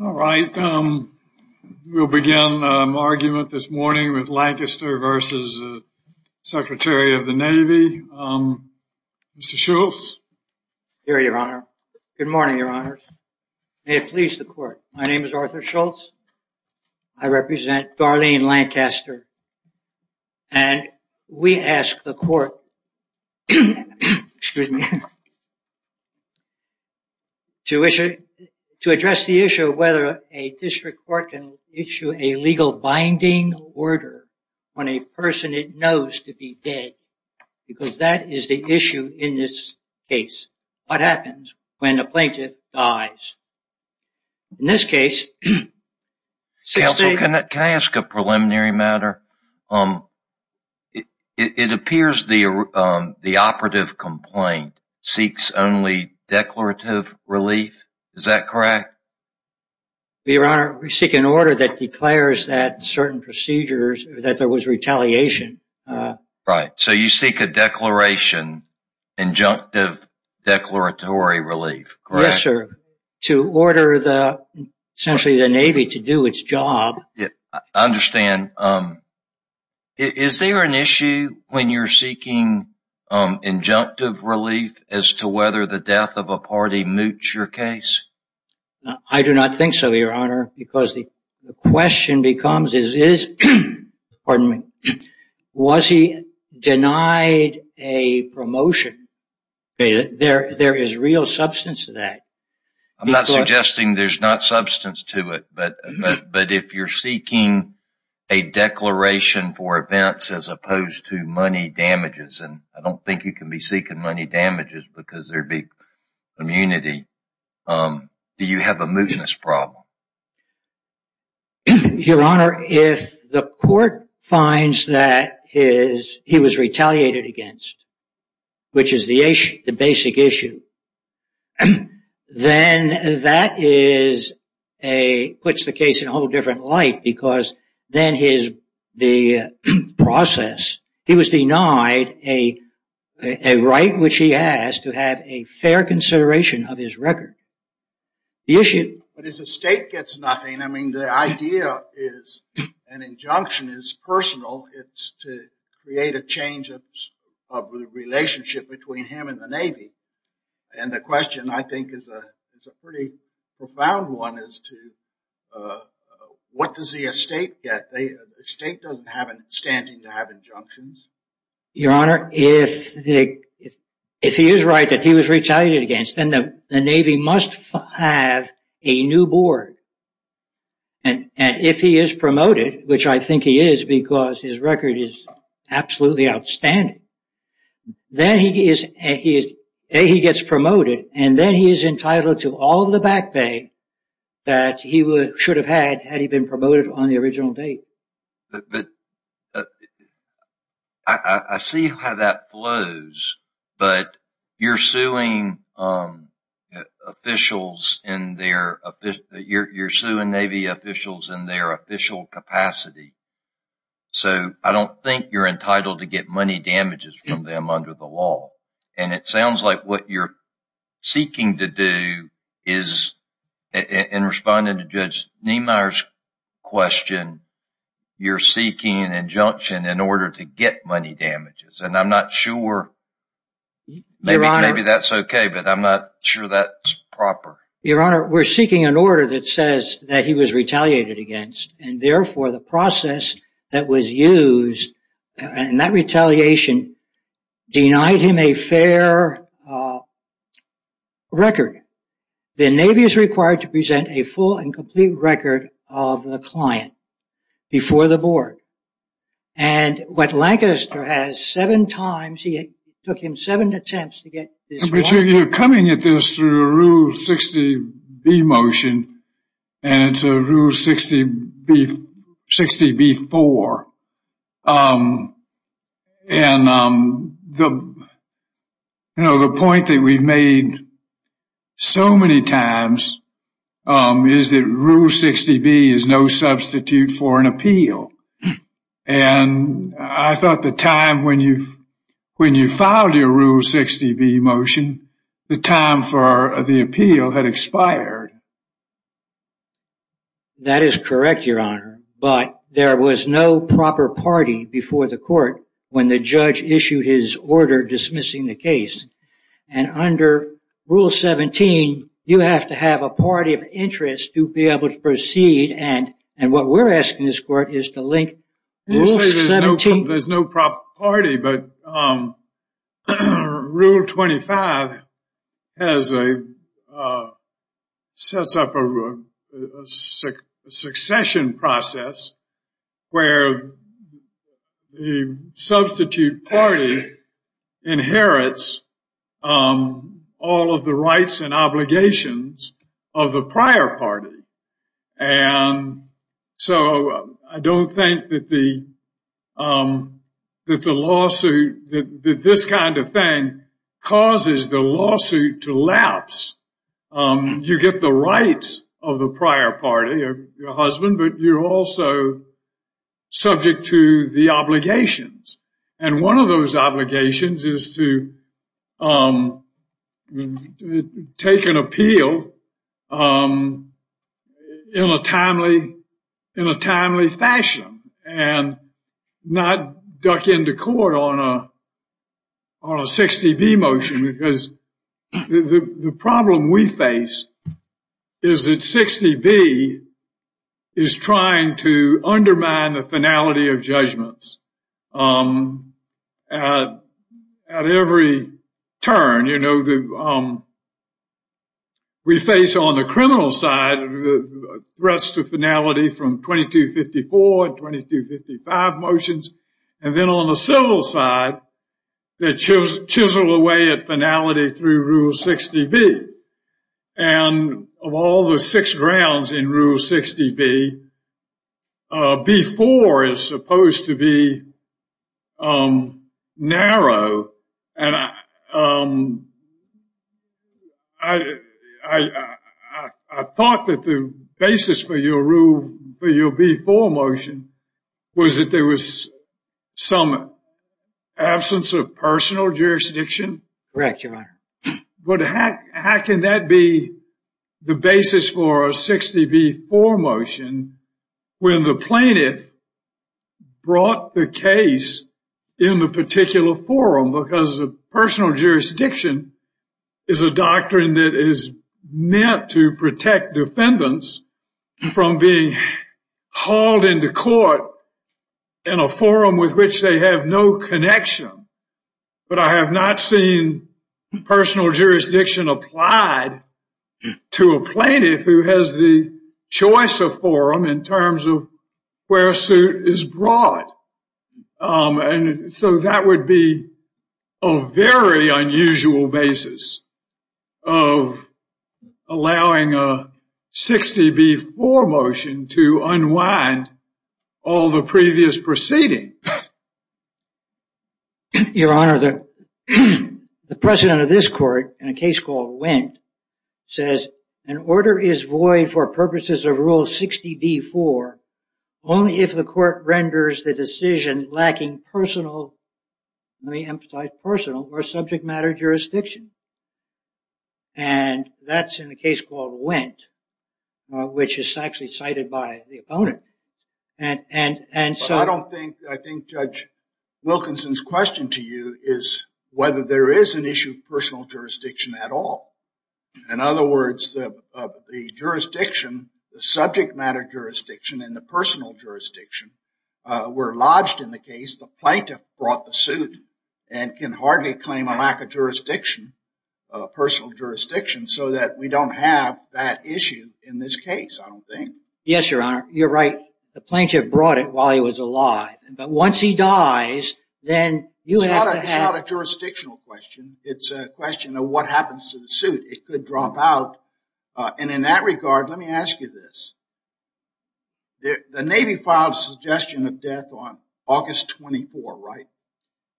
all right um we'll begin argument this morning with Lancaster versus Secretary of the Navy mr. Schultz here your honor good morning your honors may it please the court my name is Arthur Schultz I represent Darlene Lancaster and we ask the court to issue to address the issue of whether a district court can issue a legal binding order on a person it knows to be dead because that is the issue in this case what happens when the plaintiff dies in this case say also can I ask a preliminary matter um it appears the the operative complaint seeks only declarative relief is that correct your honor we seek an order that declares that certain procedures that there was retaliation right so you seek a declaration injunctive declaratory relief yes sir to order the essentially the Navy to do its job yeah I understand um is there an issue when you're seeking injunctive relief as to whether the death of a party moots your case I do not think so your honor because the question becomes is is pardon me was he denied a promotion there there is real substance to that I'm not suggesting there's not substance to it but but if you're seeking a declaration for events as opposed to money damages and I don't think you can be seeking money damages because there'd be immunity do you have a mootness problem your honor if the court finds that his he was retaliated against which is the Asian the basic issue and then that is a puts the case in a whole different light because then his the process he was denied a a right which he has to have a fair consideration of his record the issue but as a state gets nothing I mean the idea is an injunction is personal it's to create a change of the relationship between him and the Navy and the question I think is a it's a pretty profound one is to what does the estate get they state doesn't have an standing to have injunctions your honor if the if he is right that he was retaliated against then the Navy must have a new board and and if he is promoted which I think is a he is a he gets promoted and then he is entitled to all the back pay that he would should have had had he been promoted on the original date but I see how that flows but you're suing officials in their you're suing Navy officials in their official capacity so I don't think you're entitled to get money damages from them under the law and it sounds like what you're seeking to do is in responding to judge Niemeyer's question you're seeking an injunction in order to get money damages and I'm not sure maybe maybe that's okay but I'm not sure that's proper your honor we're seeking an order that says that he was retaliated against and therefore the process that was used and that retaliation denied him a fair record the Navy is required to present a full and complete record of the client before the board and what Lancaster has seven times he took him seven attempts to get you're coming at this through rule 60 B motion and it's a rule 60 beef 60 before and the you know the point that we've made so many times is that rule 60 B is no substitute for an appeal and I thought the time when you when you filed your rule 60 B motion the time for the appeal had expired that is correct your honor but there was no proper party before the court when the judge issued his order dismissing the case and under rule 17 you have to have a party of interest to be able to proceed and and what we're asking this court is to link there's no proper party but rule 25 has a sets up a succession process where the substitute party inherits all of the rights and obligations of the prior party and so I don't think that the that the lawsuit that this kind of thing causes the lawsuit to lapse you get the rights of the prior party of your husband but you're also subject to the obligations and one of those obligations is to take an appeal in a timely in a court on a on a 60 B motion because the problem we face is that 60 B is trying to undermine the finality of judgments at every turn you know the we face on the criminal side threats to finality from 2254 and 2255 motions and then on the civil side that shows chisel away at finality through rule 60 B and of all the six grounds in rule 60 B before is supposed to be narrow and I I thought that the basis for your B4 motion was that there was some absence of personal jurisdiction but how can that be the basis for a 60 B4 motion when the plaintiff brought the case in the particular forum because the personal jurisdiction is a doctrine that is meant to protect defendants from being hauled into court in a forum with which they have no connection but I have not seen personal jurisdiction applied to a plaintiff who has the choice of forum in and so that would be a very unusual basis of allowing a 60 B4 motion to unwind all the previous proceeding your honor that the president of this court in a case called went says an order is void for purposes of rule 60 B4 only if the court renders the decision lacking personal may emphasize personal or subject matter jurisdiction and that's in the case called went which is actually cited by the opponent and and and so I don't think I think judge Wilkinson's question to you is whether there is an issue of personal jurisdiction at all in other words of the jurisdiction the subject matter jurisdiction in the personal jurisdiction were lodged in the case the plaintiff brought the suit and can hardly claim a lack of jurisdiction personal jurisdiction so that we don't have that issue in this case I don't think yes your honor you're right the plaintiff brought it while he was alive but once he dies then you have a jurisdictional question it's a question of what happens to the suit it in that regard let me ask you this the Navy filed a suggestion of death on August 24 right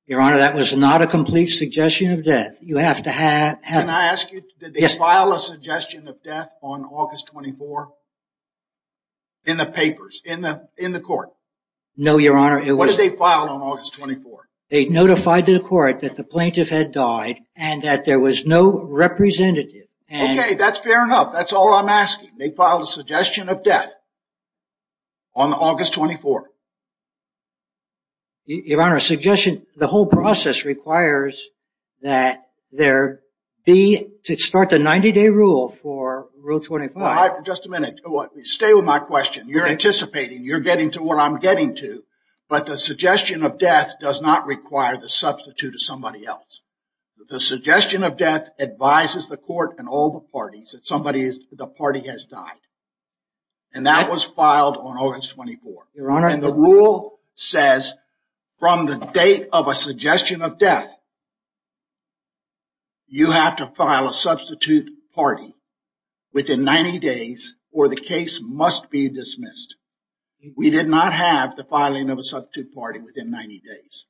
your honor that was not a complete suggestion of death you have to have and I ask you yes file a suggestion of death on August 24 in the papers in the in the court no your honor it was a file on August 24 they notified to the court that the plaintiff had died and that there was no representative okay that's fair enough that's all I'm asking they filed a suggestion of death on August 24 your honor a suggestion the whole process requires that there be to start the 90-day rule for rule 25 just a minute stay with my question you're anticipating you're getting to what I'm getting to but the suggestion of death does not require the substitute of somebody else the suggestion of death advises the court and all the parties that somebody is the party has died and that was filed on August 24 your honor and the rule says from the date of a suggestion of death you have to file a substitute party within 90 days or the case must be dismissed we did not have the filing of a substitute party within 90 days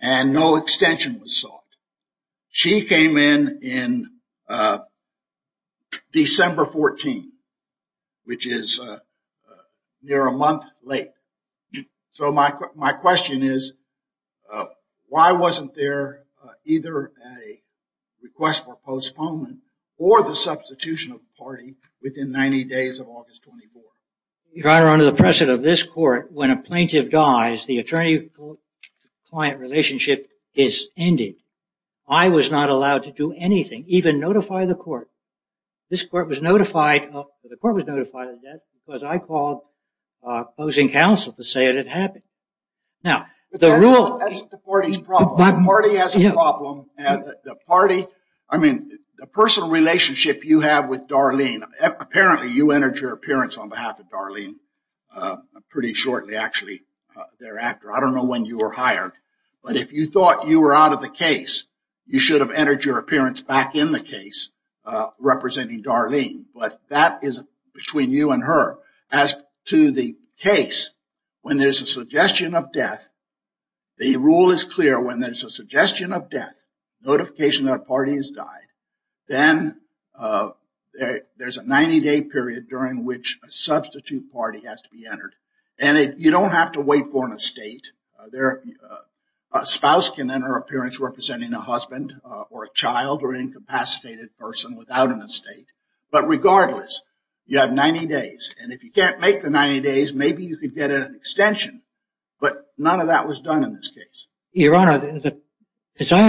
and no extension was sought she came in in December 14 which is near a month late so my question is why wasn't there either a request for postponement or the substitution of party within 90 days of August 24 your honor under the of this court when a plaintiff dies the attorney-client relationship is ended I was not allowed to do anything even notify the court this court was notified of the court was notified of that because I called opposing counsel to say that it happened now the party I mean the personal relationship you have with Darlene pretty shortly actually thereafter I don't know when you were hired but if you thought you were out of the case you should have entered your appearance back in the case representing Darlene but that is between you and her as to the case when there's a suggestion of death the rule is clear when there's a suggestion of death notification that party has died then there's a 90-day period during which a substitute party has to be entered and it you don't have to wait for an estate there a spouse can then her appearance representing a husband or a child or incapacitated person without an estate but regardless you have 90 days and if you can't make the 90 days maybe you could get an extension but none of that was done in this case your honor that as I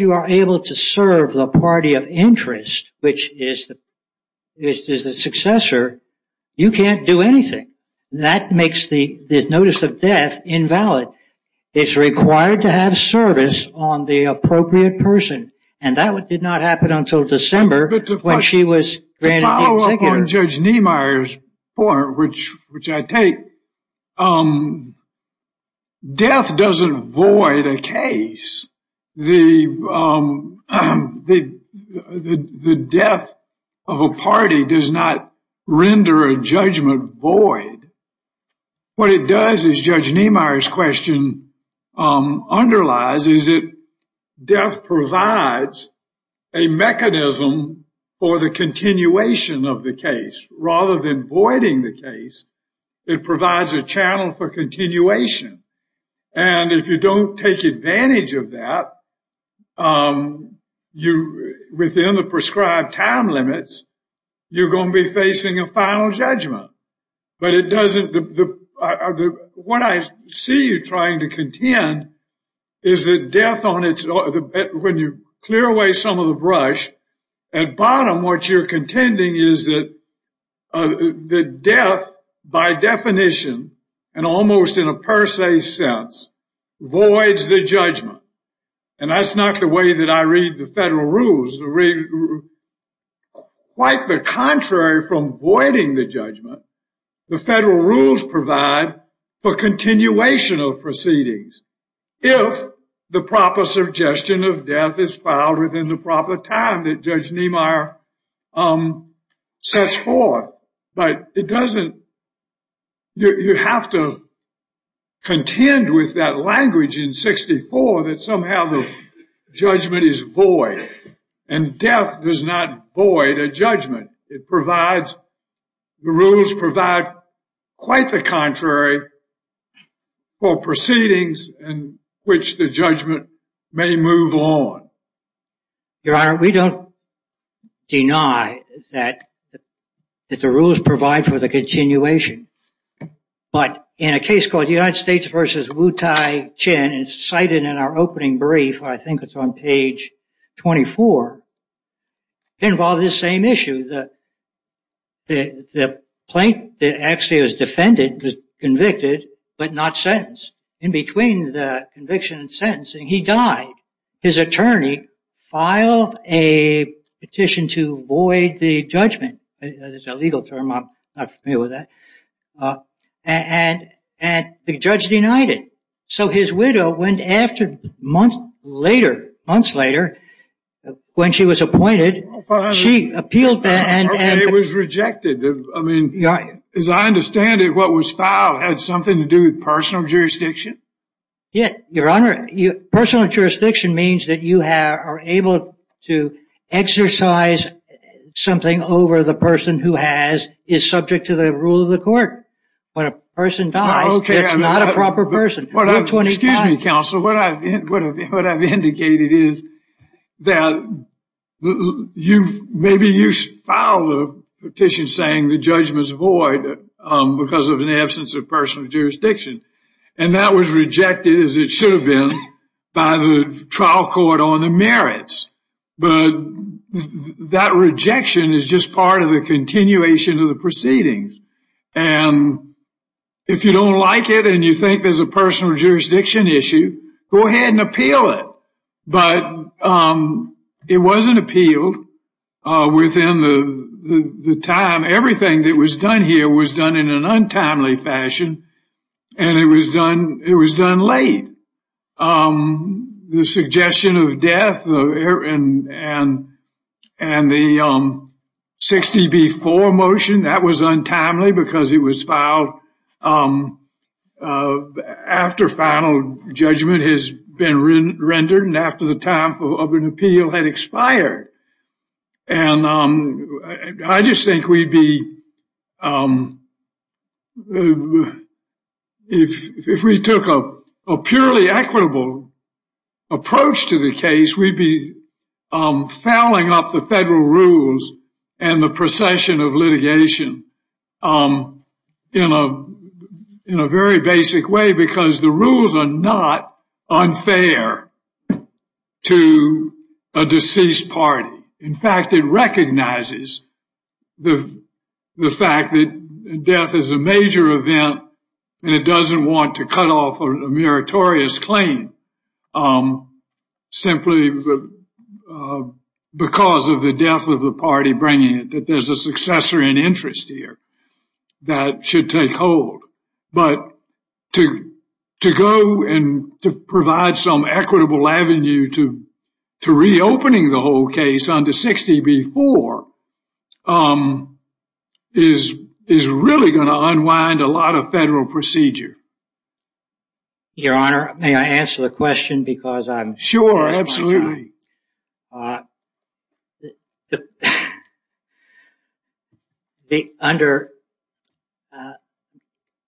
you are able to serve the party of interest which is the is the successor you can't do anything that makes the this notice of death invalid it's required to have service on the appropriate person and that what did not happen until December when she was granted a ticket. To follow up on Judge Niemeyer's point which the death of a party does not render a judgment void what it does is Judge Niemeyer's question underlies is it death provides a mechanism for the continuation of the case rather than voiding the case it provides a channel for continuation and if you don't take advantage of that you within the prescribed time limits you're going to be facing a final judgment but it doesn't the what I see you trying to contend is the death on its own when you clear away some of the brush at bottom what you're contending is that the death by definition and almost in a per se sense voids the judgment and that's not the way that I read the federal rules quite the contrary from voiding the judgment the federal rules provide for continuation of proceedings if the proper suggestion of death is filed within the proper time that Judge you have to contend with that language in 64 that somehow the judgment is void and death does not void a judgment it provides the rules provide quite the contrary for proceedings and which the judgment may move on your honor we don't deny that that the rules provide for the continuation but in a case called United States versus Wu Tai-Chen and it's cited in our opening brief I think it's on page 24 involved this same issue that the the plaintiff actually was defended was convicted but not sentenced in between the conviction and sentencing he died his attorney filed a petition to void the judgment is a legal term I'm not familiar with that and and the judge denied it so his widow went after months later months later when she was appointed she appealed that and it was rejected I mean yeah as I understand it what was filed had something to do with jurisdiction means that you have are able to exercise something over the person who has is subject to the rule of the court when a person dies okay I'm not a proper person what I'm 20 excuse me counsel what I've been what I've indicated is that you've maybe you follow petition saying the judgments void because of an absence of personal jurisdiction and that was rejected as it should have been by the trial court on the merits but that rejection is just part of the continuation of the proceedings and if you don't like it and you think there's a personal jurisdiction issue go ahead and appeal it but it wasn't appealed within the time everything that was done here was done in an untimely fashion and it was done it was done late the suggestion of death and and the 60 before motion that was untimely because it was filed after final judgment has been rendered and after the time of an appeal had expired and I just think we'd be if we took a purely equitable approach to the case we'd be fouling up the federal rules and the procession of litigation in a in a basic way because the rules are not unfair to a deceased party in fact it recognizes the the fact that death is a major event and it doesn't want to cut off a meritorious claim simply because of the death of the party bringing it that there's a successor in interest here that should take hold but to to go and to provide some equitable Avenue to to reopening the whole case under 60 before is is really going to unwind a lot of federal procedure your honor may I answer the question because I'm sure absolutely the under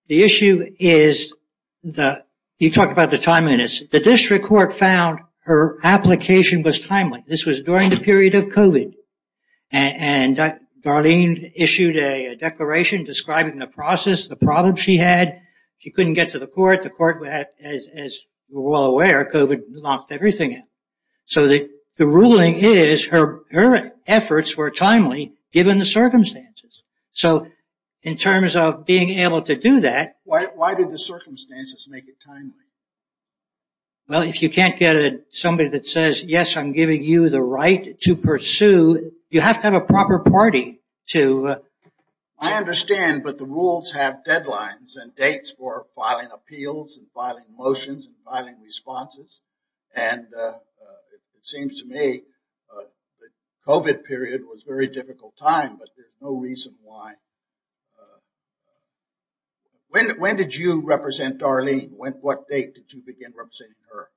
the issue is the you talked about the time minutes the district court found her application was timely this was during the period of COVID and Darlene issued a declaration describing the process the problem she had she couldn't get to the court the well aware of it knocked everything in so the ruling is her her efforts were timely given the circumstances so in terms of being able to do that well if you can't get somebody that says yes I'm giving you the right to pursue you have to have a proper party to I understand but the rules have deadlines and dates for filing appeals and filing motions and filing responses and it seems to me the COVID period was very difficult time but there's no reason why when when did you represent Darlene went what date did you begin representing her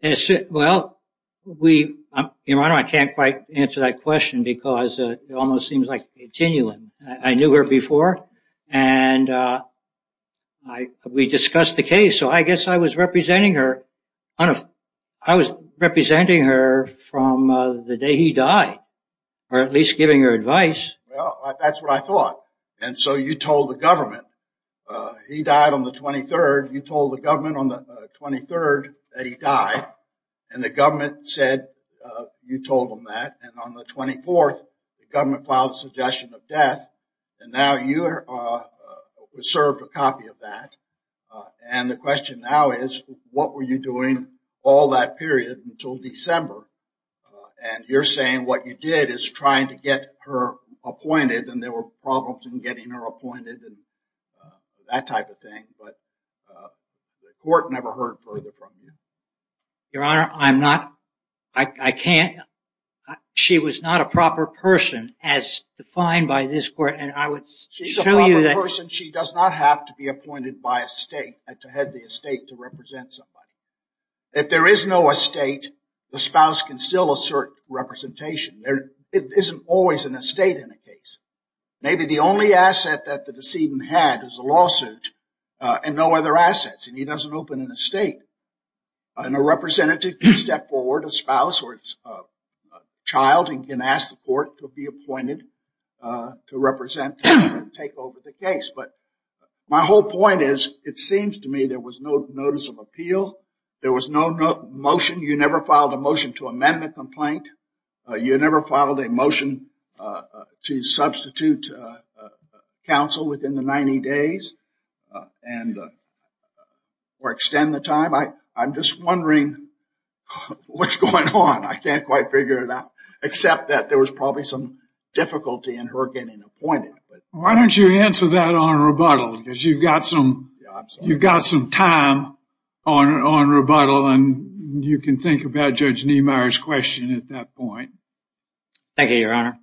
yes well we you know I don't I can't quite answer that question because it almost seems like genuine I knew her before and I we discussed the case so I guess I was representing her I don't I was representing her from the day he died or at least giving her advice that's what I thought and so you told the government he died on the 23rd you told the government on the 23rd that he died and the government said you told him that and on the 24th the government filed a suggestion of death and now you are served a copy of that and the question now is what were you doing all that period until December and you're saying what you did is trying to get her appointed and there were problems in getting her appointed and that type of thing but the court never heard further your honor I'm not I can't she was not a proper person as defined by this court and I would she's a person she does not have to be appointed by a state to head the estate to represent somebody if there is no estate the spouse can still assert representation there it isn't always an estate in a case maybe the only asset that the decedent had is a lawsuit and no other assets and he doesn't open an estate and a representative can step forward a spouse or child and can ask the court to be appointed to represent take over the case but my whole point is it seems to me there was no notice of appeal there was no motion you never filed a motion to amend the complaint you never filed a substitute counsel within the 90 days and or extend the time I I'm just wondering what's going on I can't quite figure it out except that there was probably some difficulty in her getting appointed why don't you answer that on rebuttal because you've got some you've got some time on on rebuttal and you can think about judge Nehmeyer's question at that point thank you your honor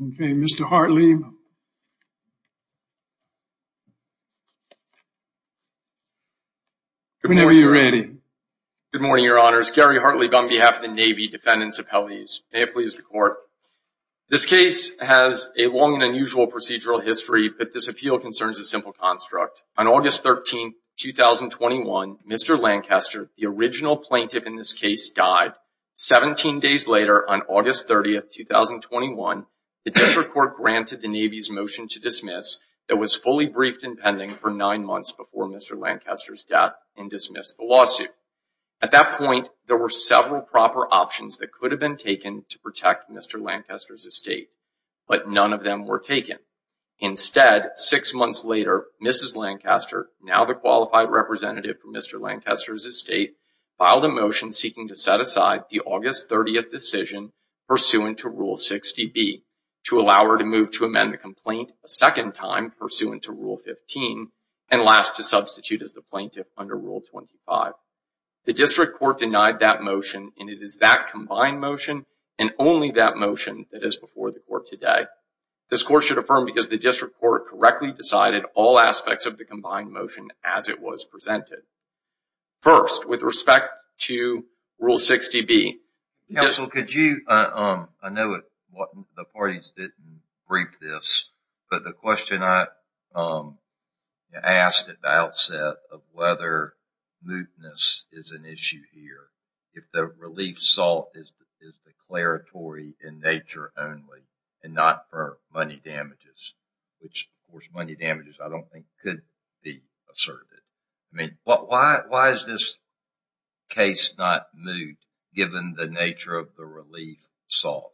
okay mr. Hartley whenever you're ready good morning your honors Gary Hartley bum behalf of the Navy defendants appellees may it please the court this case has a long and unusual procedural history but this appeal concerns a simple construct on the original plaintiff in this case died 17 days later on August 30th 2021 the district court granted the Navy's motion to dismiss that was fully briefed and pending for nine months before mr. Lancaster's death and dismissed the lawsuit at that point there were several proper options that could have been taken to protect mr. Lancaster's estate but none of them were taken instead six months later mrs. Lancaster now the qualified representative for mr. Lancaster's estate filed a motion seeking to set aside the August 30th decision pursuant to rule 60 B to allow her to move to amend the complaint a second time pursuant to rule 15 and last to substitute as the plaintiff under rule 25 the district court denied that motion and it is that combined motion and only that motion that is before the court today this court should affirm because the district court correctly decided all aspects of the combined motion as it was presented first with respect to rule 60 B yes well could you um I know it what the parties didn't brief this but the question I asked at the outset of whether mootness is an issue here if the relief salt is declaratory in nature only and not for money damages which of course money damages I don't think could be asserted I mean what why is this case not moot given the nature of the relief salt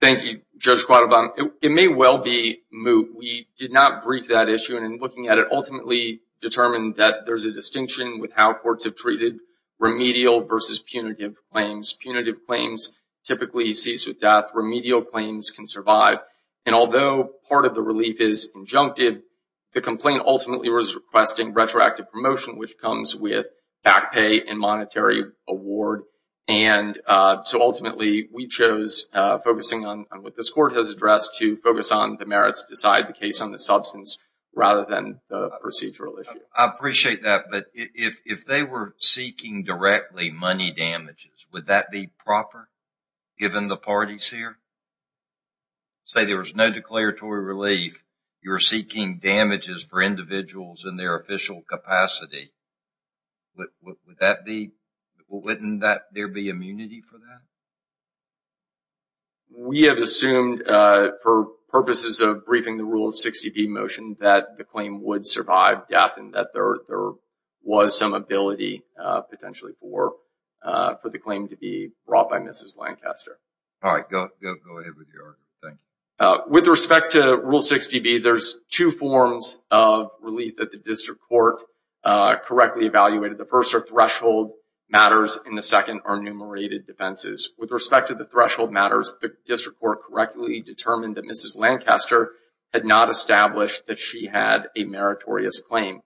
thank you judge quad about it may well be moot we did not brief that issue and in looking at it ultimately determined that there's a distinction with how courts have treated remedial versus punitive claims punitive claims typically cease with death remedial claims can survive and although part of the relief is injunctive the complaint ultimately was requesting retroactive promotion which comes with back pay and monetary award and so ultimately we chose focusing on what this court has addressed to focus on the merits decide the case on the substance rather than the procedural issue I appreciate that but if they were seeking directly money damages would that be proper given the parties here say there was no declaratory relief you're seeking damages for individuals in their official capacity would that be wouldn't that there be immunity for that we have assumed for purposes of briefing the rule of 60 B motion that the claim would survive death and that there was some ability potentially for for the claim to be brought by mrs. Lancaster all right with respect to rule 60 B there's two forms of relief that the district court correctly evaluated the first or threshold matters in the second are enumerated defenses with respect to the threshold matters the district court correctly determined that mrs. Lancaster had not established that she had a meritorious claim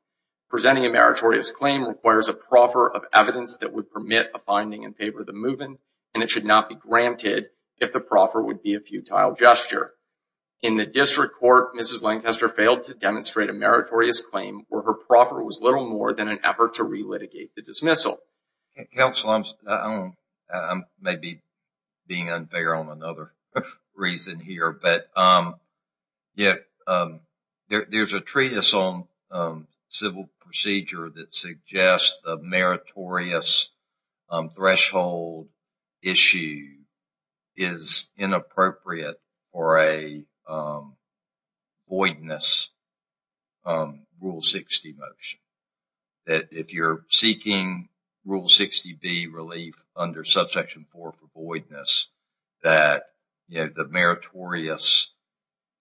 presenting a meritorious claim requires a proffer of evidence that would permit a finding in favor of the movement and it should not be granted if the proffer would be a futile gesture in the district court mrs. Lancaster failed to demonstrate a meritorious claim where her proffer was little more than an effort to relitigate the dismissal council I'm maybe being unfair on another reason here but yeah there's a treatise on civil procedure that suggests the meritorious threshold issue is inappropriate or a voidness rule 60 motion that if you're seeking rule 60 B relief under subsection 4 for voidness that you know the meritorious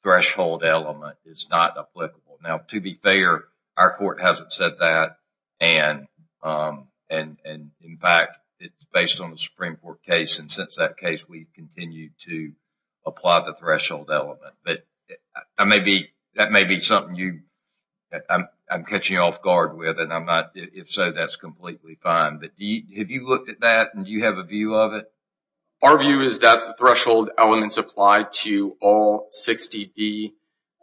threshold element is not applicable now to be fair our court hasn't said that and and and in fact it's based on the Supreme Court case and since that case we continue to apply the threshold element but I may be that may be something you I'm catching off guard with and I'm not if so that's completely fine but have you looked at that and do you have a is that the threshold elements apply to all 60 be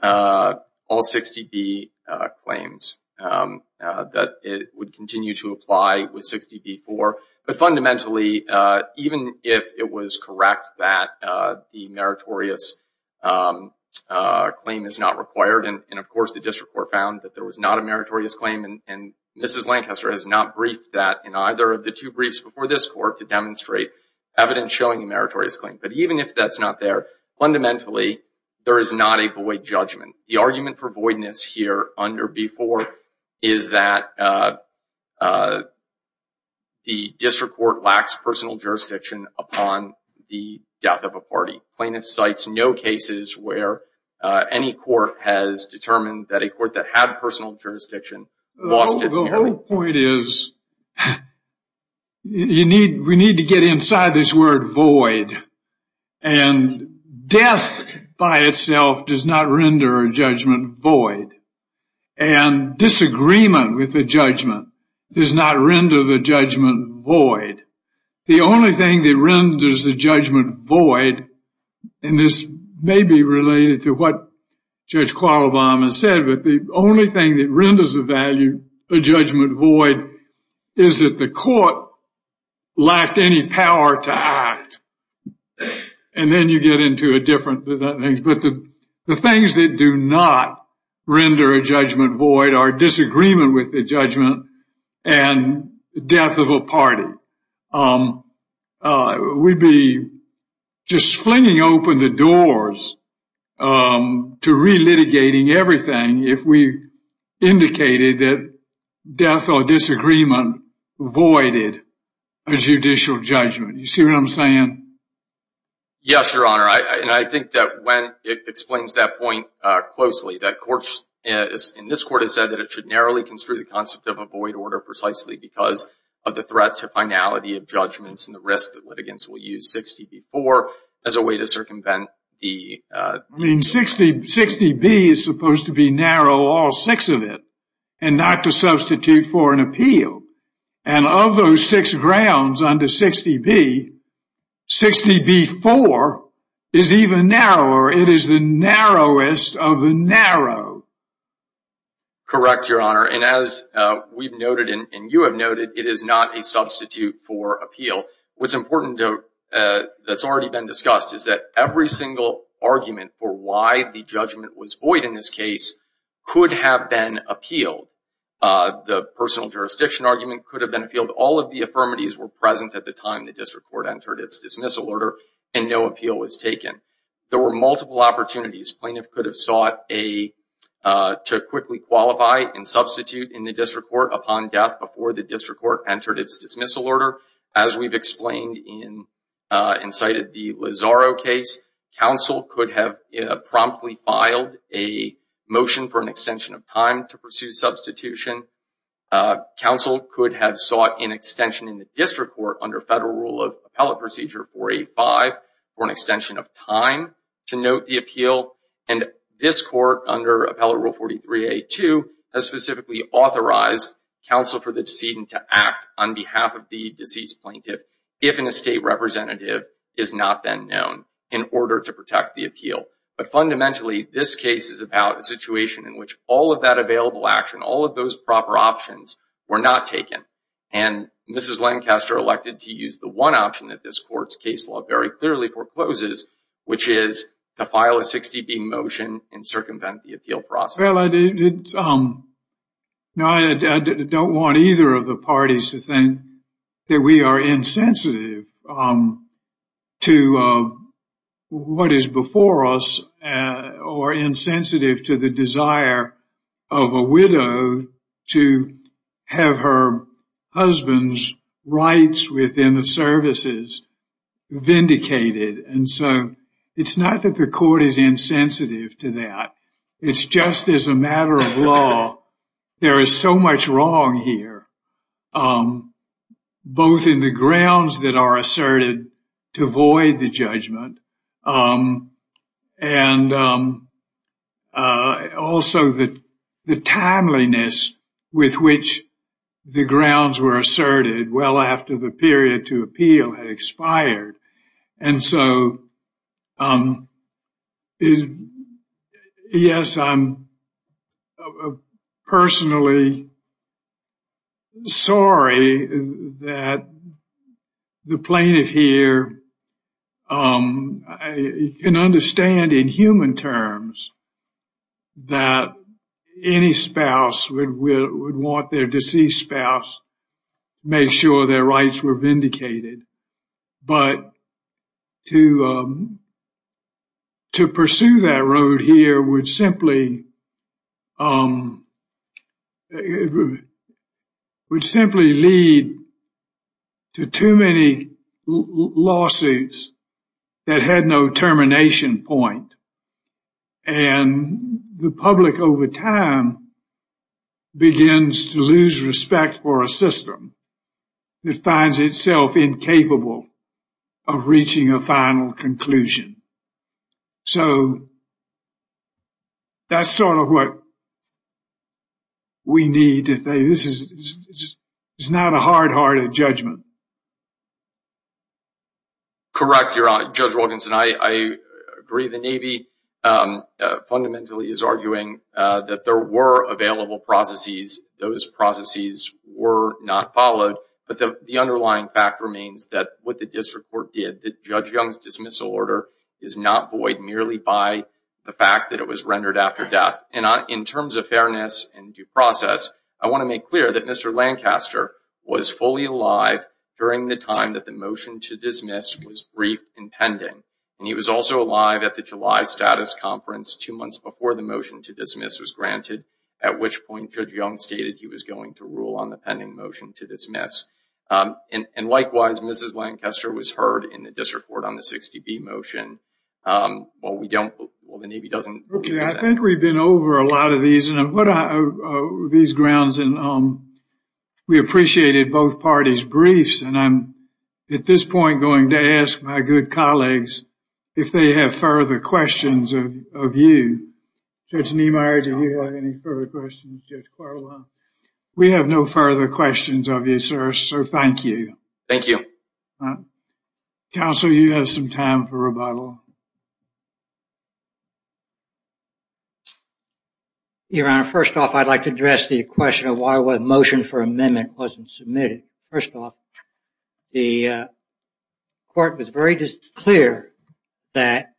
all 60 be claims that it would continue to apply with 60 before but fundamentally even if it was correct that the meritorious claim is not required and of course the district court found that there was not a meritorious claim and mrs. Lancaster has not briefed that in either of the two briefs before this court to demonstrate evidence showing a meritorious claim but even if that's not there fundamentally there is not a void judgment the argument for voidness here under before is that the district court lacks personal jurisdiction upon the death of a party plaintiff cites no cases where any court has determined that a court that had personal jurisdiction lost it the whole point is you need we need to get inside this word void and death by itself does not render a judgment void and disagreement with the judgment does not render the judgment void the only thing that renders the judgment void and this may be related to what Judge Carl Obama said but the only thing that renders the value a judgment void is that the court lacked any power to act and then you get into a different but the things that do not render a judgment void are disagreement with the judgment and death of a party we'd be just flinging open the doors to re-litigating everything if we indicated that death or disagreement voided a judicial judgment you see what I'm saying yes your honor and I think that when it explains that point closely that courts in this court has said that it should narrowly construe the concept of a void order precisely because of the threat to finality of judgments and the risk that 60b is supposed to be narrow all six of it and not to substitute for an appeal and of those six grounds under 60b 60b4 is even narrower it is the narrowest of the narrow correct your honor and as we've noted and you have noted it is not a substitute for appeal what's important though that's already been discussed is that every single argument for why the judgment was void in this case could have been appealed the personal jurisdiction argument could have been appealed all of the affirmatives were present at the time the district court entered its dismissal order and no appeal was taken there were multiple opportunities plaintiff could have sought a to quickly qualify and substitute in the district court upon death before the district court entered its dismissal order as we've explained in incited the Lazaro case counsel could have promptly filed a motion for an extension of time to pursue substitution counsel could have sought an extension in the district court under federal rule of appellate procedure 485 for an extension of time to note the appeal and this court under appellate rule 43 a2 has specifically authorized counsel for the decedent to act on behalf of the deceased plaintiff if an estate representative is not then known in order to protect the appeal but fundamentally this case is about a situation in which all of that available action all of those proper options were not taken and mrs. Lancaster elected to use the one option that this court's case law very clearly forecloses which is the file a 60 being motion and circumvent the appeal process I don't want either of the parties to think that we are insensitive to what is before us or insensitive to the desire of a widow to have her husband's rights within the services vindicated and so it's not that the court is insensitive to that it's just as a matter of law there is so much wrong here both in the grounds that are asserted to avoid the judgment and also that the timeliness with which the grounds were asserted well after the period to appeal had expired and so is yes I'm personally sorry that the plaintiff here can understand in human terms that any spouse would want their deceased spouse make sure their rights were vindicated but to to pursue that road here would simply lead to too many lawsuits that had no termination point and the public over time begins to lose respect for a system that finds itself incapable of that's sort of what we need to say this is it's not a hard hearted judgment correct your honor judge Wilkinson I agree the Navy fundamentally is arguing that there were available processes those processes were not followed but the underlying fact remains that what the district court did that judge dismissal order is not void merely by the fact that it was rendered after death and I in terms of fairness and due process I want to make clear that mr. Lancaster was fully alive during the time that the motion to dismiss was brief and pending and he was also alive at the July status conference two months before the motion to dismiss was granted at which point judge young stated he was going to rule on the pending motion to dismiss and likewise mrs. Lancaster was heard in the district court on the 60 B motion well we don't well the Navy doesn't I think we've been over a lot of these and what are these grounds and we appreciated both parties briefs and I'm at this point going to ask my good colleagues if they have further questions of you judge Neimeyer do you have any further questions we have no further questions of you sir sir thank you thank you counsel you have some time for a rebuttal your honor first off I'd like to address the question of why was motion for amendment wasn't submitted first off the court was very just clear that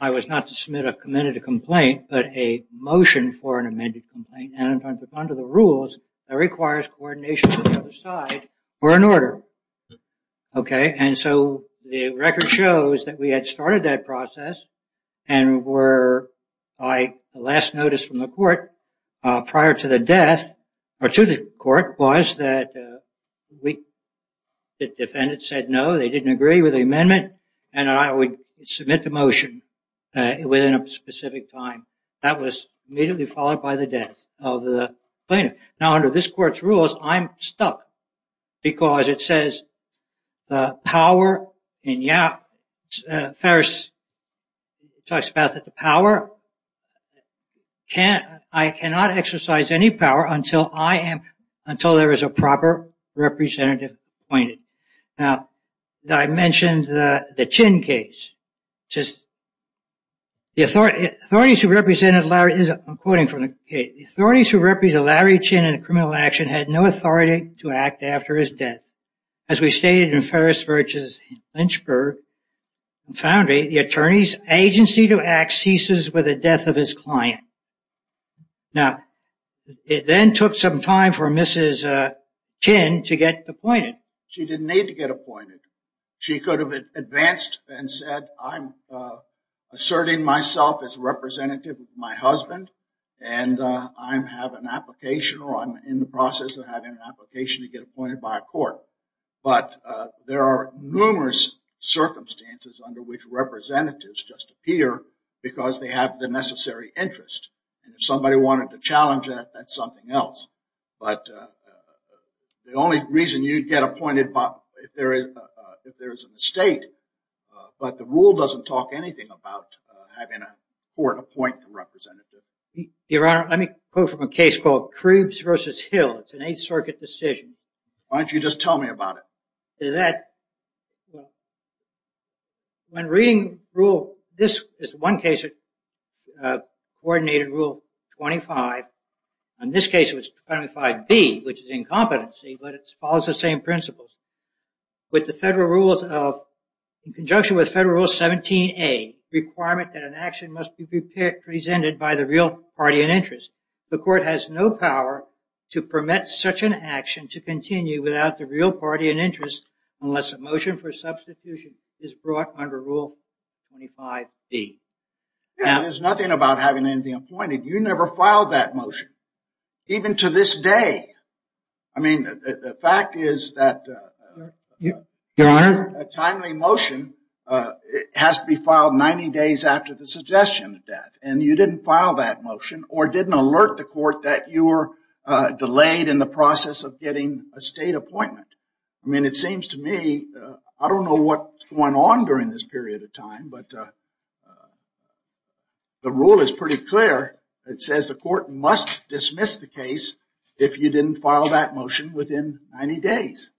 I was not to submit a committed a complaint but a motion for an amended complaint and under the rules that requires coordination or an order okay and so the record shows that we had started that process and were I last notice from the court prior to the death or to the court was that we the defendant said no they didn't agree with the amendment and I would submit the motion within a now under this court's rules I'm stuck because it says the power and yeah Ferris talks about that the power can't I cannot exercise any power until I am until there is a proper representative appointed now that I mentioned the the chin case just the authority authorities who represented Larry is according for authorities who represent Larry chin in a criminal action had no authority to act after his death as we stated in Ferris virtues Lynchburg found a the attorney's agency to act ceases with a death of his client now it then took some time for mrs. chin to get appointed she didn't need to get appointed she could have advanced and said I'm asserting myself as representative of my and I'm have an application or I'm in the process of having an application to get appointed by a court but there are numerous circumstances under which representatives just appear because they have the necessary interest and if somebody wanted to challenge that that's something else but the only reason you'd get appointed Bob if there is if there is an estate but the rule doesn't talk anything about having a court appoint a representative your honor let me quote from a case called Krebs versus Hill it's an 8th Circuit decision aren't you just tell me about it that when reading rule this is one case it coordinated rule 25 in this case it was 25 B which is incompetency but it follows the same with the federal rules of conjunction with federal rule 17 a requirement that an action must be prepared presented by the real party and interest the court has no power to permit such an action to continue without the real party and interest unless a motion for substitution is brought under rule 25 B there's nothing about having anything appointed you never filed that motion even to this day I mean the fact is that your honor a timely motion it has to be filed 90 days after the suggestion of death and you didn't file that motion or didn't alert the court that you were delayed in the process of getting a state appointment I mean it seems to me I don't know what went on during this the rule is pretty clear it says the court must dismiss the case if you didn't file that motion within 90 days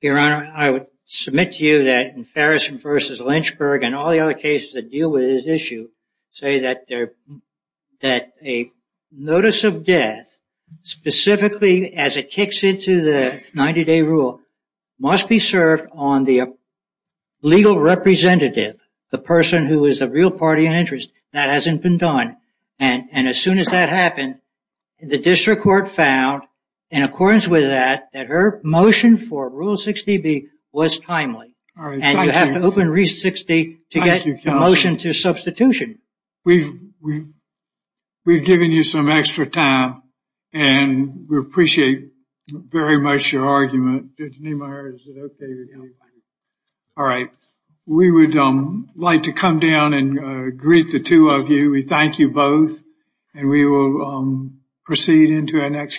your honor I would submit to you that in Ferris versus Lynchburg and all the other cases that deal with this issue say that there that a notice of death specifically as it kicks into the 90-day rule must be served on the legal representative the person who is a real party and interest that hasn't been done and and as soon as that happened the district court found in accordance with that that her motion for rule 60 B was timely you have to open reach 60 to get your motion to substitution we we've given you some extra time and we appreciate very much your argument all right we would like to come down and greet the two of you we thank you both and we will proceed into our next case